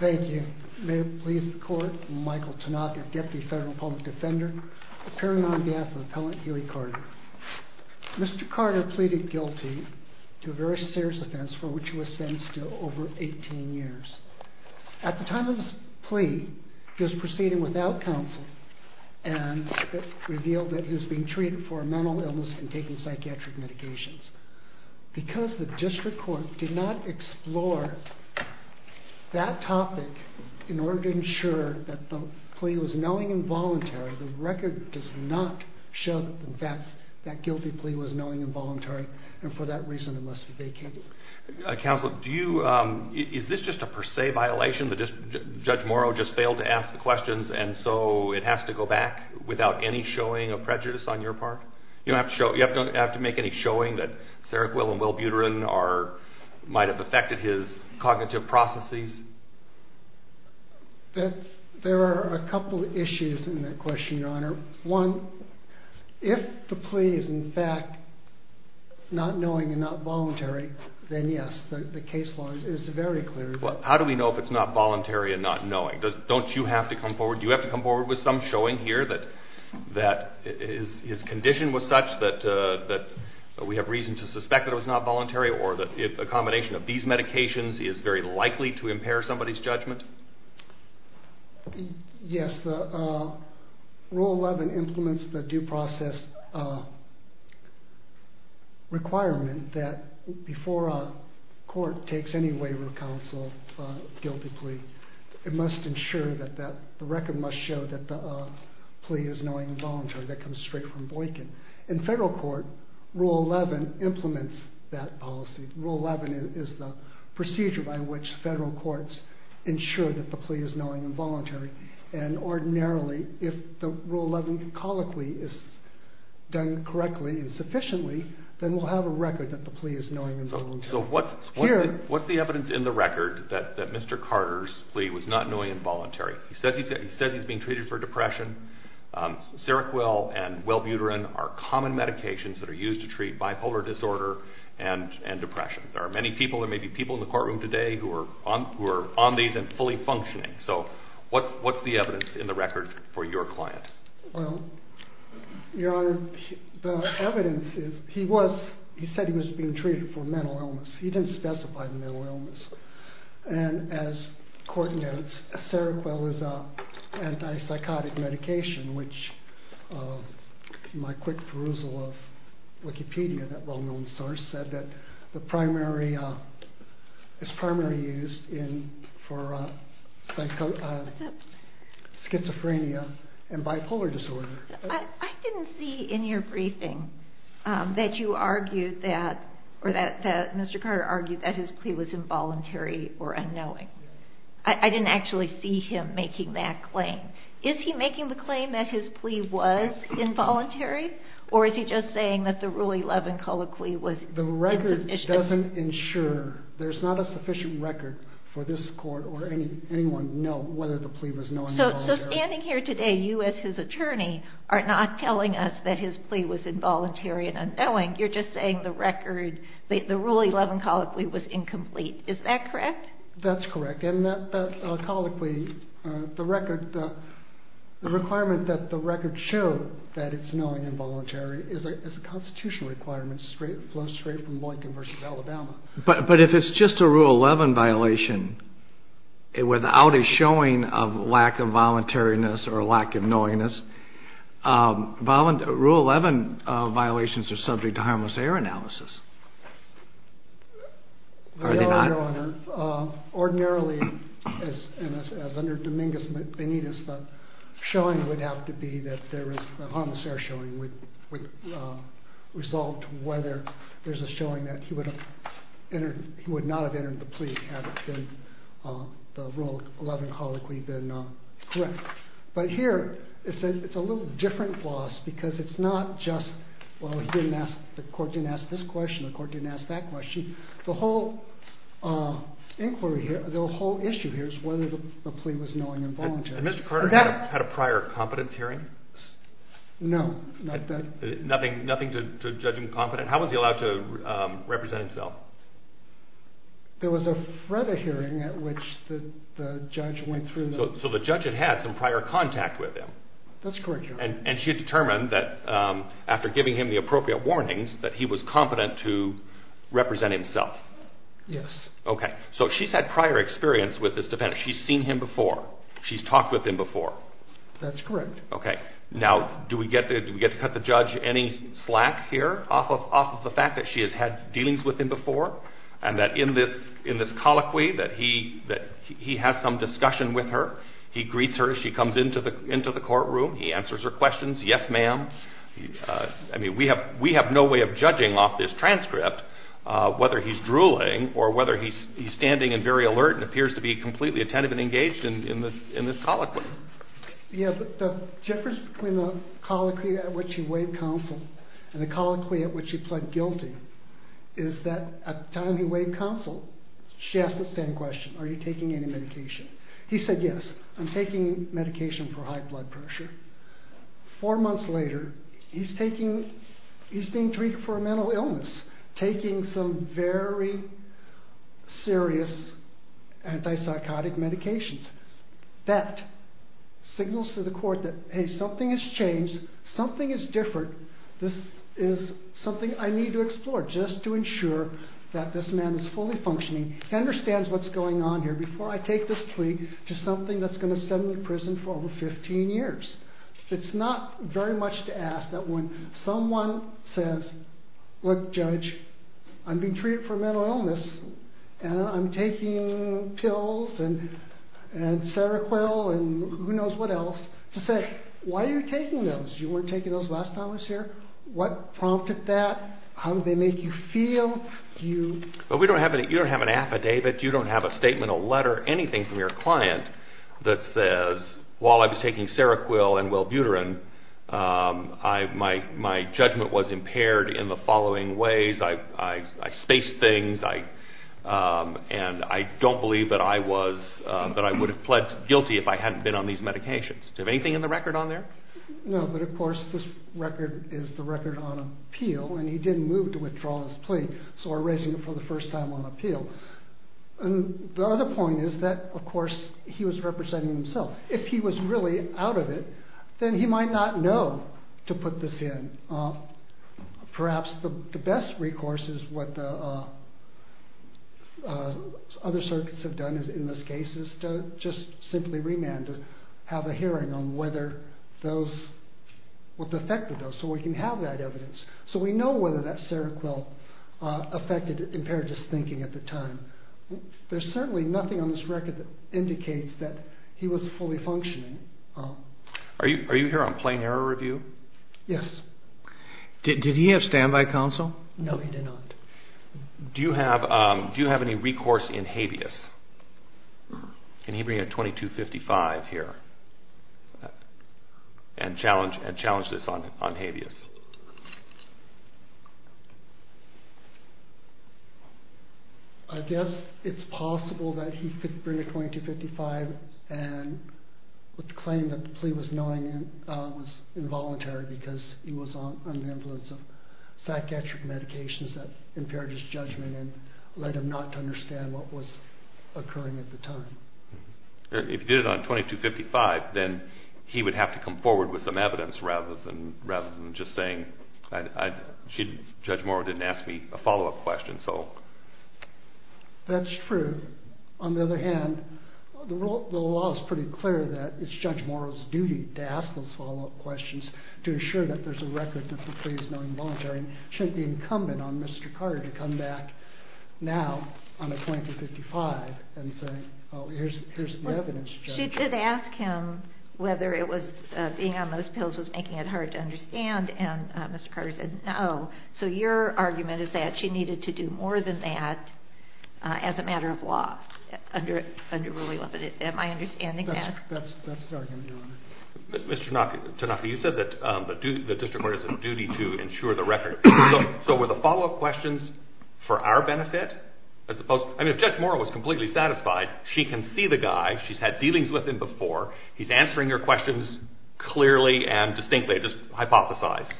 Thank you. May it please the Court, I'm Michael Tanaka, Deputy Federal Public Defender, appearing on behalf of Appellant Huey Carter. Mr. Carter pleaded guilty to a very serious offense for which he was sentenced to over 18 years. At the time of his plea, he was proceeding without counsel and it was revealed that he was being treated for a mental illness and taking psychiatric medications. Because the District Court did not explore that topic in order to ensure that the plea was knowing and voluntary, the record does not show that that guilty plea was knowing and voluntary and for that reason it must be vacated. Counsel, is this just a per se violation that Judge Morrow just failed to ask the questions and so it has to go back without any showing of prejudice on your part? You don't have to make any showing that Sarah Quill and Will Buterin might have affected his cognitive processes? There are a couple of issues in that question, Your Honor. One, if the plea is in fact not knowing and not voluntary, then yes, the case law is very clear. Well, how do we know if it's not voluntary and not knowing? Don't you have to come forward? Do you have to come forward with some showing here that his condition was such that we have reason to suspect that it was not voluntary or that a combination of these medications is very likely to impair somebody's judgment? Yes, Rule 11 implements the due process requirement that before a court takes any waiver of counsel of a guilty plea, it must ensure that the record must show that the plea is knowing and voluntary, that comes straight from Boykin. In federal court, Rule 11 implements that policy. Rule 11 is the procedure by which federal courts ensure that the plea is knowing and voluntary. And ordinarily, if the Rule 11 colloquy is done correctly and sufficiently, then we'll have a record that the plea is knowing and voluntary. So what's the evidence in the record that Mr. Carter's plea was not knowing and voluntary? He says he's being treated for depression. Seroquel and Welbuterin are common medications that are used to treat bipolar disorder and depression. There are many people, there may be people in the courtroom today who are on these and fully functioning. So what's the evidence in the record for your client? Well, Your Honor, the evidence is he said he was being treated for mental illness. He didn't specify mental illness. And as court notes, Seroquel is an anti-psychotic medication, which my quick perusal of Wikipedia, that well-known source, said that it's primarily used for schizophrenia and bipolar disorder. I didn't see in your briefing that you argued that, or that Mr. Carter argued that his plea was involuntary or unknowing. I didn't actually see him making that claim. Is he making the claim that his plea was involuntary, or is he just saying that the Rule 11 colloquy was insufficient? The record doesn't ensure, there's not a sufficient record for this court or anyone to know whether the plea was knowing and voluntary. So standing here today, you as his attorney are not telling us that his plea was involuntary and unknowing. You're just saying the record, the Rule 11 colloquy was incomplete. Is that correct? That's correct. And that colloquy, the record, the requirement that the record show that it's knowing and voluntary is a constitutional requirement straight from Lincoln versus Alabama. But if it's just a Rule 11 violation, without a showing of lack of voluntariness or lack of knowingness, Rule 11 violations are subject to harmless air analysis. Are they not? No, Your Honor. Ordinarily, as under Dominguez Benitez, the showing would have to be that there is a harmless air showing would result whether there's a showing that he would not have entered the plea had the Rule 11 colloquy been correct. But here, it's a little different clause because it's not just, well, the court didn't ask this question, the court didn't ask that question. The whole inquiry here, the whole issue here is whether the plea was knowing and voluntary. And Mr. Carter had a prior competence hearing? No. Nothing to judge him competent? How was he allowed to represent himself? There was a FREDA hearing at which the judge went through. So the judge had had some prior contact with him? That's correct, Your Honor. And she had determined that after giving him the appropriate warnings that he was competent to represent himself? Yes. Okay. So she's had prior experience with this defendant. She's seen him before. She's talked with him before? That's correct. Okay. Now, do we get to cut the judge any slack here off of the fact that she has had dealings with him before and that in this colloquy that he has some discussion with her, he greets her, she comes into the courtroom, he answers her questions, yes, ma'am. I mean, we have no way of judging off this transcript whether he's drooling or whether he's standing and very alert and appears to be completely attentive and engaged in this colloquy. Yeah, but the difference between the colloquy at which he weighed counsel and the colloquy at which he pled guilty is that at the time he weighed counsel, she asked the same question, are you taking any medication? He said yes, I'm taking medication for high blood pressure. Four months later, he's taking, he's being treated for a mental illness, taking some very serious antipsychotic medications. That signals to the court that, hey, something has changed, something is different, this is something I need to explore just to ensure that this man is fully functioning, he understands what's going on here. Before I take this plea to something that's going to send me to prison for over 15 years. It's not very much to ask that when someone says, look, judge, I'm being treated for a mental illness and I'm taking pills and Seroquel and who knows what else, to say, why are you taking those? You weren't taking those last time I was here? What prompted that? How did they make you feel? You don't have an affidavit, you don't have a statement, a letter, anything from your client that says while I was taking Seroquel and Welbuterin, my judgment was impaired in the following ways. I spaced things and I don't believe that I was, that I would have pled guilty if I hadn't been on these medications. Do you have anything in the record on there? No, but of course this record is the record on appeal and he didn't move to withdraw his plea, so we're raising it for the first time on appeal. The other point is that of course he was representing himself. If he was really out of it, then he might not know to put this in. Perhaps the best recourse is what the other circuits have done in this case is to just simply remand to have a hearing on whether those, what the effect of those, so we can have that evidence. So we know whether that Seroquel affected impaired his thinking at the time. There's certainly nothing on this record that indicates that he was fully functioning. Are you here on plain error review? Yes. Did he have standby counsel? No, he did not. Do you have any recourse in habeas? Can he bring a 2255 here and challenge this on habeas? I guess it's possible that he could bring a 2255 and claim that the plea was involuntary because he was on the influence of psychiatric medications that impaired his judgment and led him not to understand what was occurring at the time. If he did it on 2255, then he would have to come forward with some evidence rather than just saying, Judge Morrow didn't ask me a follow-up question. That's true. On the other hand, the law is pretty clear that it's Judge Morrow's duty to ask those follow-up questions to ensure that there's a record that the plea is not involuntary. It shouldn't be incumbent on Mr. Carter to come back now on a 2255 and say, oh, here's the evidence, Judge. Well, she did ask him whether being on those pills was making it hard to understand, and Mr. Carter said no. So your argument is that she needed to do more than that as a matter of law under Rule 11. Am I understanding that? That's the argument, Your Honor. Mr. Tanaka, you said that the district lawyer has a duty to ensure the record. So were the follow-up questions for our benefit? I mean, if Judge Morrow was completely satisfied, she can see the guy. She's had dealings with him before. He's answering her questions clearly and distinctly, just hypothesized.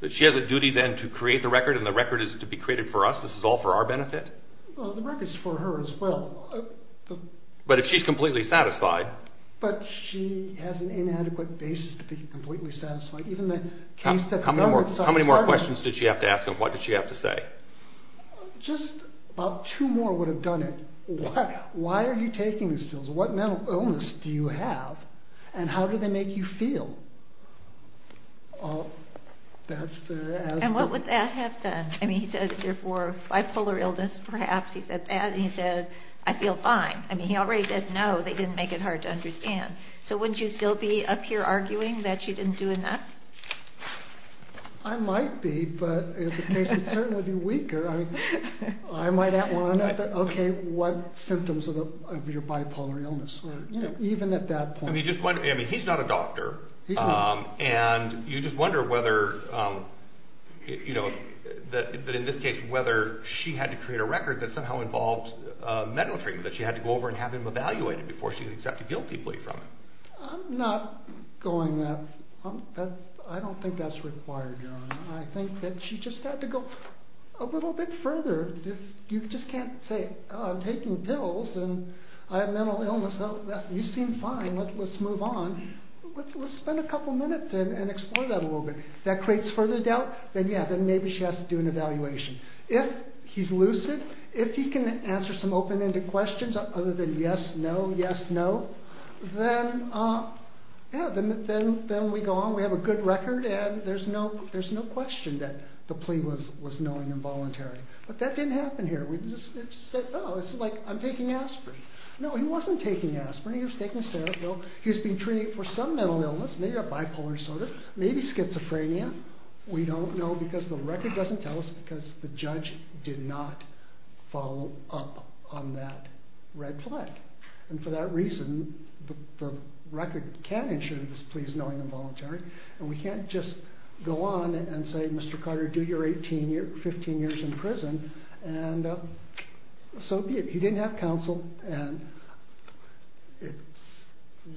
But she has a duty then to create the record, and the record is to be created for us. This is all for our benefit? Well, the record's for her as well. But if she's completely satisfied? But she has an inadequate basis to be completely satisfied. How many more questions did she have to ask him? What did she have to say? Just about two more would have done it. Why are you taking these pills? What mental illness do you have? And how do they make you feel? And what would that have done? I mean, he said, therefore, bipolar illness, perhaps. He said that, and he said, I feel fine. I mean, he already said no. They didn't make it hard to understand. So wouldn't you still be up here arguing that she didn't do enough? I might be, but it would certainly be weaker. I might want to know, okay, what symptoms of your bipolar illness? Even at that point. I mean, he's not a doctor. He's not. And you just wonder whether, you know, that in this case, whether she had to create a record that somehow involved mental treatment, that she had to go over and have him evaluated before she could accept a guilty plea from him. I'm not going that. I don't think that's required, John. I think that she just had to go a little bit further. You just can't say, oh, I'm taking pills, and I have mental illness. You seem fine. Let's move on. Let's spend a couple minutes and explore that a little bit. If that creates further doubt, then, yeah, then maybe she has to do an evaluation. If he's lucid, if he can answer some open-ended questions other than yes, no, yes, no, then, yeah, then we go on. We have a good record, and there's no question that the plea was knowing and voluntary. But that didn't happen here. It just said, oh, it's like I'm taking aspirin. No, he wasn't taking aspirin. He was taking Cerebil. He was being treated for some mental illness, maybe a bipolar disorder, maybe schizophrenia. We don't know because the record doesn't tell us because the judge did not follow up on that red flag. And for that reason, the record can ensure that this plea is knowing and voluntary. And we can't just go on and say, Mr. Carter, do your 15 years in prison. And so he didn't have counsel. And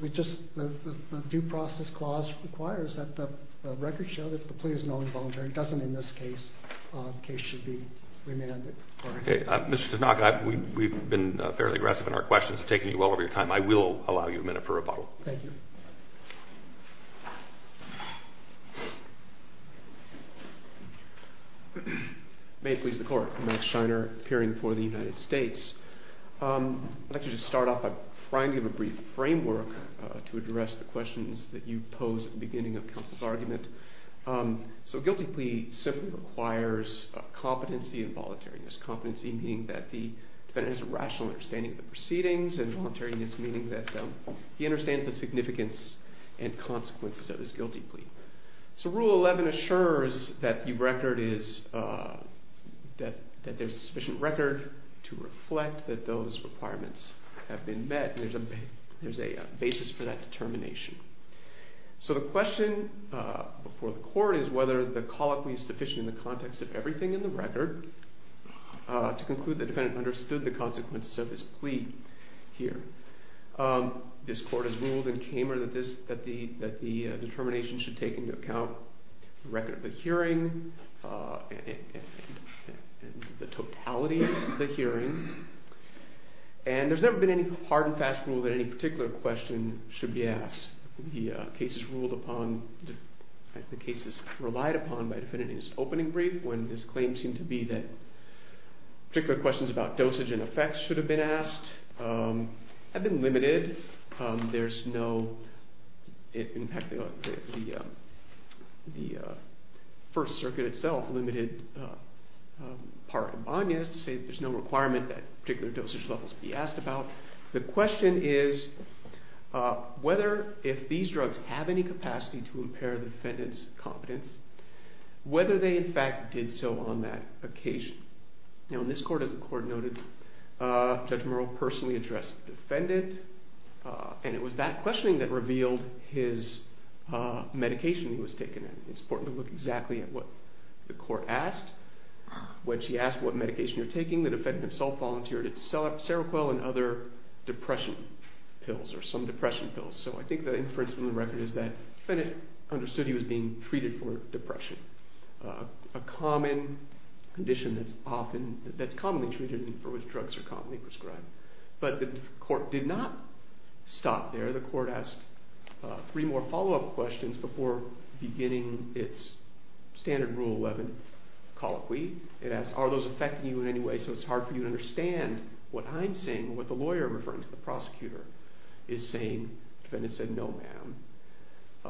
the due process clause requires that the record show that the plea is knowing and voluntary. It doesn't in this case. The case should be remanded. Okay. Mr. Tanaka, we've been fairly aggressive in our questions. We've taken you well over your time. I will allow you a minute for rebuttal. Thank you. May it please the Court. I'm Max Scheiner, appearing for the United States. I'd like to just start off by trying to give a brief framework to address the questions that you posed at the beginning of counsel's argument. So a guilty plea simply requires competency and voluntariness, competency meaning that the defendant has a rational understanding of the proceedings and voluntariness meaning that he understands the significance and consequences of his guilty plea. So Rule 11 assures that the record is – that there's sufficient record to reflect that those requirements have been met. There's a basis for that determination. So the question before the Court is whether the colloquy is sufficient in the context of everything in the record. To conclude, the defendant understood the consequences of his plea here. This Court has ruled in Kramer that the determination should take into account the record of the hearing and the totality of the hearing. And there's never been any hard and fast rule that any particular question should be asked. The case is ruled upon – the case is relied upon by the defendant in his opening brief when his claims seem to be that particular questions about dosage and effects should have been asked have been limited. There's no – in fact, the First Circuit itself limited par abonnes to say there's no requirement that particular dosage levels be asked about. The question is whether if these drugs have any capacity to impair the defendant's competence, whether they in fact did so on that occasion. Now in this Court, as the Court noted, Judge Murrell personally addressed the defendant, and it was that questioning that revealed his medication he was taking. It's important to look exactly at what the Court asked. When she asked what medication you're taking, the defendant himself volunteered it's Seroquel and other depression pills or some depression pills. So I think the inference from the record is that the defendant understood he was being treated for depression, a common condition that's often – that's commonly treated and for which drugs are commonly prescribed. But the Court did not stop there. The Court asked three more follow-up questions before beginning its standard Rule 11 colloquy. It asked, are those affecting you in any way so it's hard for you to understand what I'm saying and what the lawyer referring to, the prosecutor, is saying. The defendant said, no, ma'am.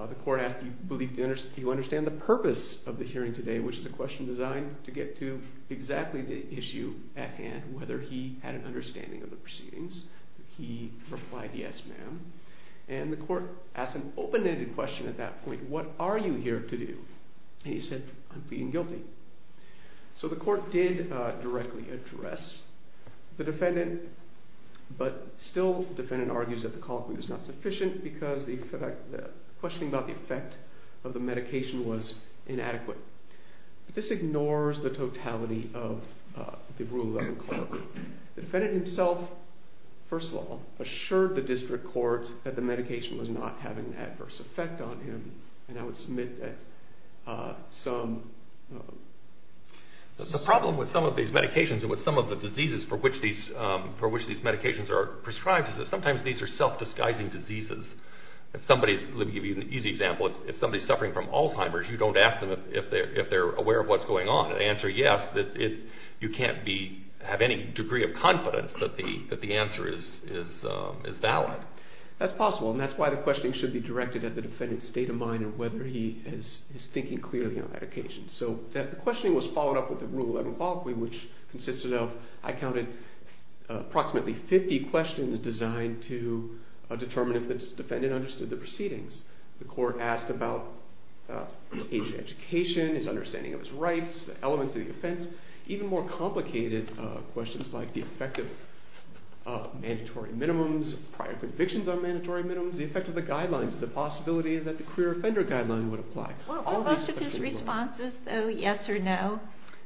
The Court asked, do you believe – do you understand the purpose of the hearing today, which is a question designed to get to exactly the issue at hand, whether he had an understanding of the proceedings. He replied, yes, ma'am. And the Court asked an open-ended question at that point, what are you here to do? And he said, I'm pleading guilty. So the Court did directly address the defendant, but still the defendant argues that the colloquy was not sufficient because the question about the effect of the medication was inadequate. This ignores the totality of the Rule 11 colloquy. The defendant himself, first of all, assured the district courts that the medication was not having an adverse effect on him, and I would submit that some – for which these medications are prescribed is that sometimes these are self-disguising diseases. If somebody's – let me give you an easy example. If somebody's suffering from Alzheimer's, you don't ask them if they're aware of what's going on. The answer, yes, you can't be – have any degree of confidence that the answer is valid. That's possible, and that's why the questioning should be directed at the defendant's state of mind and whether he is thinking clearly on that occasion. So the questioning was followed up with the Rule 11 colloquy, which consisted of – I counted approximately 50 questions designed to determine if this defendant understood the proceedings. The Court asked about his age of education, his understanding of his rights, the elements of the offense. Even more complicated questions like the effect of mandatory minimums, prior convictions on mandatory minimums, the effect of the guidelines, the possibility that the career offender guideline would apply. Were most of his responses, though, yes or no?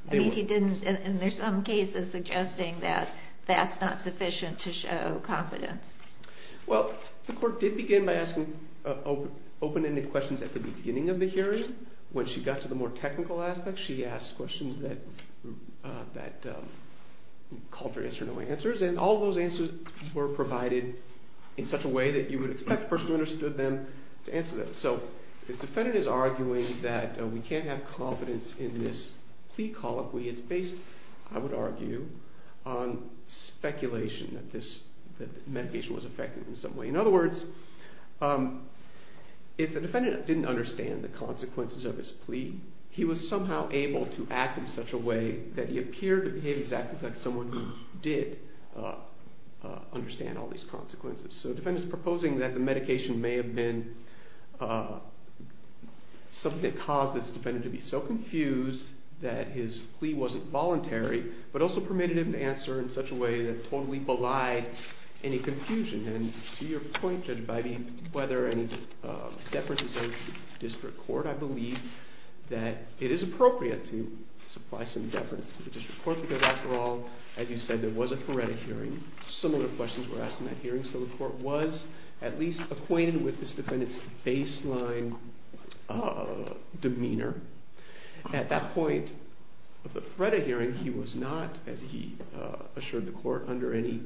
I mean, he didn't – and there's some cases suggesting that that's not sufficient to show confidence. Well, the Court did begin by asking open-ended questions at the beginning of the hearing. When she got to the more technical aspects, she asked questions that called for yes or no answers, and all those answers were provided in such a way that you would expect the person who understood them to answer them. So the defendant is arguing that we can't have confidence in this plea colloquy. It's based, I would argue, on speculation that this medication was effective in some way. In other words, if the defendant didn't understand the consequences of his plea, he was somehow able to act in such a way that he appeared to behave exactly like someone who did understand all these consequences. So the defendant is proposing that the medication may have been something that caused this defendant to be so confused that his plea wasn't voluntary, but also permitted him to answer in such a way that totally belied any confusion. And to your point, Judge Biby, whether any deference is owed to the district court, I believe that it is appropriate to supply some deference to the district court because after all, as you said, there was a FREDA hearing, similar questions were asked in that hearing, so the court was at least acquainted with this defendant's baseline demeanor. At that point of the FREDA hearing, he was not, as he assured the court, under any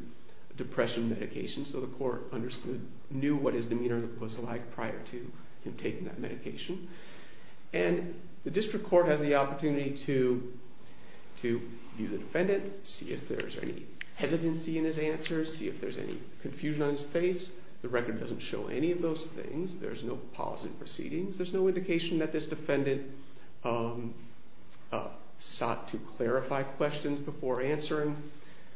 depression medication, so the court understood, knew what his demeanor was like prior to him taking that medication. And the district court has the opportunity to view the defendant, see if there's any hesitancy in his answers, see if there's any confusion on his face. The record doesn't show any of those things. There's no policy proceedings. There's no indication that this defendant sought to clarify questions before answering.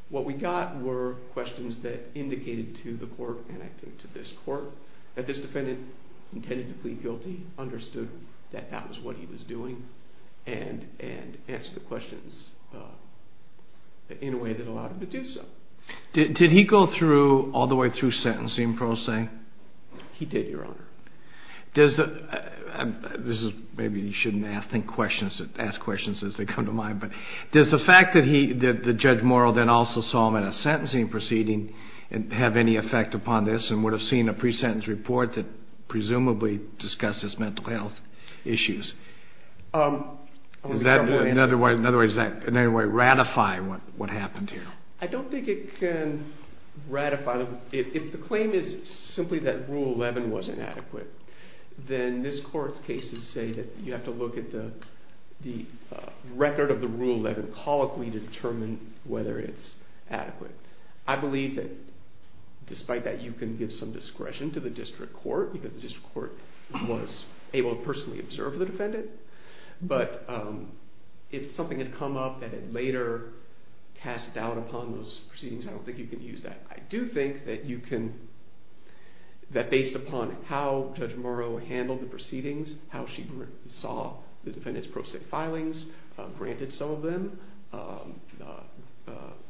What we got were questions that indicated to the court, and I think to this court, that this defendant intended to plead guilty, understood that that was what he was doing, and answered the questions in a way that allowed him to do so. Did he go through, all the way through sentencing, Pro Se? He did, Your Honor. Maybe you shouldn't ask questions as they come to mind, but does the fact that Judge Morrill then also saw him in a sentencing proceeding have any effect upon this and would have seen a pre-sentence report that presumably discussed his mental health issues? In other words, does that in any way ratify what happened here? I don't think it can ratify them. If the claim is simply that Rule 11 was inadequate, then this court's cases say that you have to look at the record of the Rule 11 colloquy to determine whether it's adequate. I believe that, despite that, you can give some discretion to the district court, because the district court was able to personally observe the defendant, but if something had come up that it later cast doubt upon those proceedings, I don't think you can use that. I do think that based upon how Judge Morrill handled the proceedings, how she saw the defendant's Pro Se filings, granted some of them,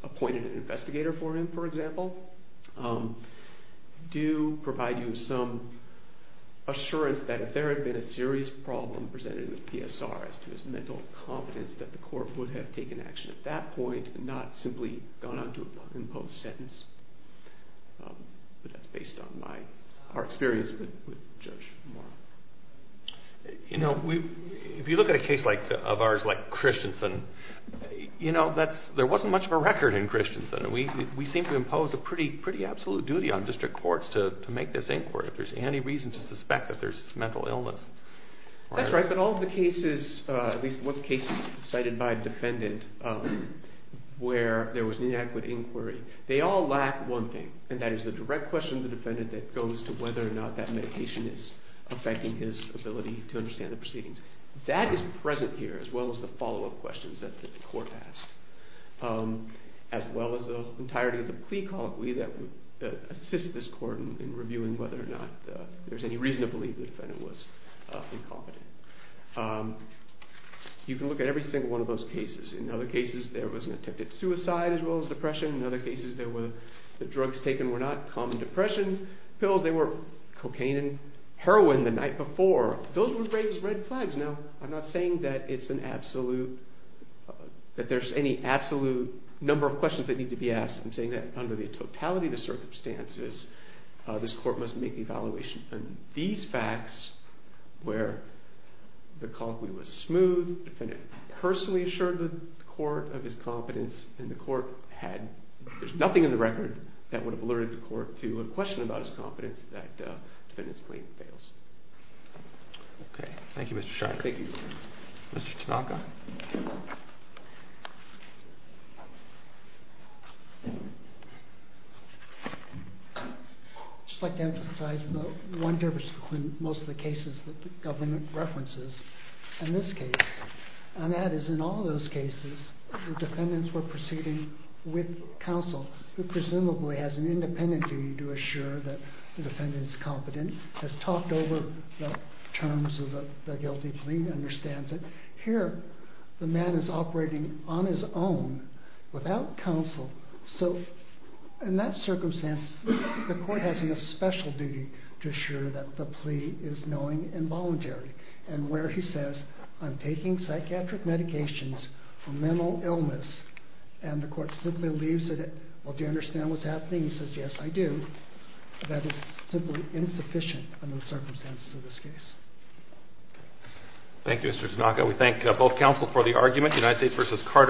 appointed an investigator for him, for example, do provide you some assurance that if there had been a serious problem presented in the PSR as to his mental competence, that the court would have taken action at that point and not simply gone on to impose a sentence. But that's based on our experience with Judge Morrill. If you look at a case of ours like Christensen, there wasn't much of a record in Christensen. We seem to impose a pretty absolute duty on district courts to make this inquiry if there's any reason to suspect that there's mental illness. That's right, but all of the cases, at least one case cited by a defendant where there was inadequate inquiry, they all lack one thing, and that is the direct question to the defendant that goes to whether or not that medication is affecting his ability to understand the proceedings. That is present here, as well as the follow-up questions that the court asked, as well as the entirety of the plea colloquy that would assist this court in reviewing whether or not there's any reason to believe the defendant was incompetent. You can look at every single one of those cases. In other cases, there was an attempted suicide as well as depression. In other cases, the drugs taken were not common depression pills. They were cocaine and heroin the night before. Those were raised red flags. Now, I'm not saying that there's any absolute number of questions that need to be asked. I'm saying that under the totality of the circumstances, this court must make the evaluation. These facts, where the colloquy was smooth, the defendant personally assured the court of his competence, and the court had nothing in the record that would have alerted the court to a question about his competence that the defendant's claim fails. Okay. Thank you, Mr. Shiner. Thank you. Mr. Tanaka. I'd just like to emphasize the one difference between most of the cases that the government references and this case, and that is in all those cases, the defendants were proceeding with counsel who presumably has an independent duty to assure that the defendant is competent, has talked over the terms of the guilty plea, understands it. Here, the man is operating on his own without counsel. So in that circumstance, the court has a special duty to assure that the plea is knowing and voluntary, and where he says, I'm taking psychiatric medications for mental illness, and the court simply leaves it. Well, do you understand what's happening? He says, yes, I do. That is simply insufficient under the circumstances of this case. Thank you, Mr. Tanaka. We thank both counsel for the argument, United States v. Carter.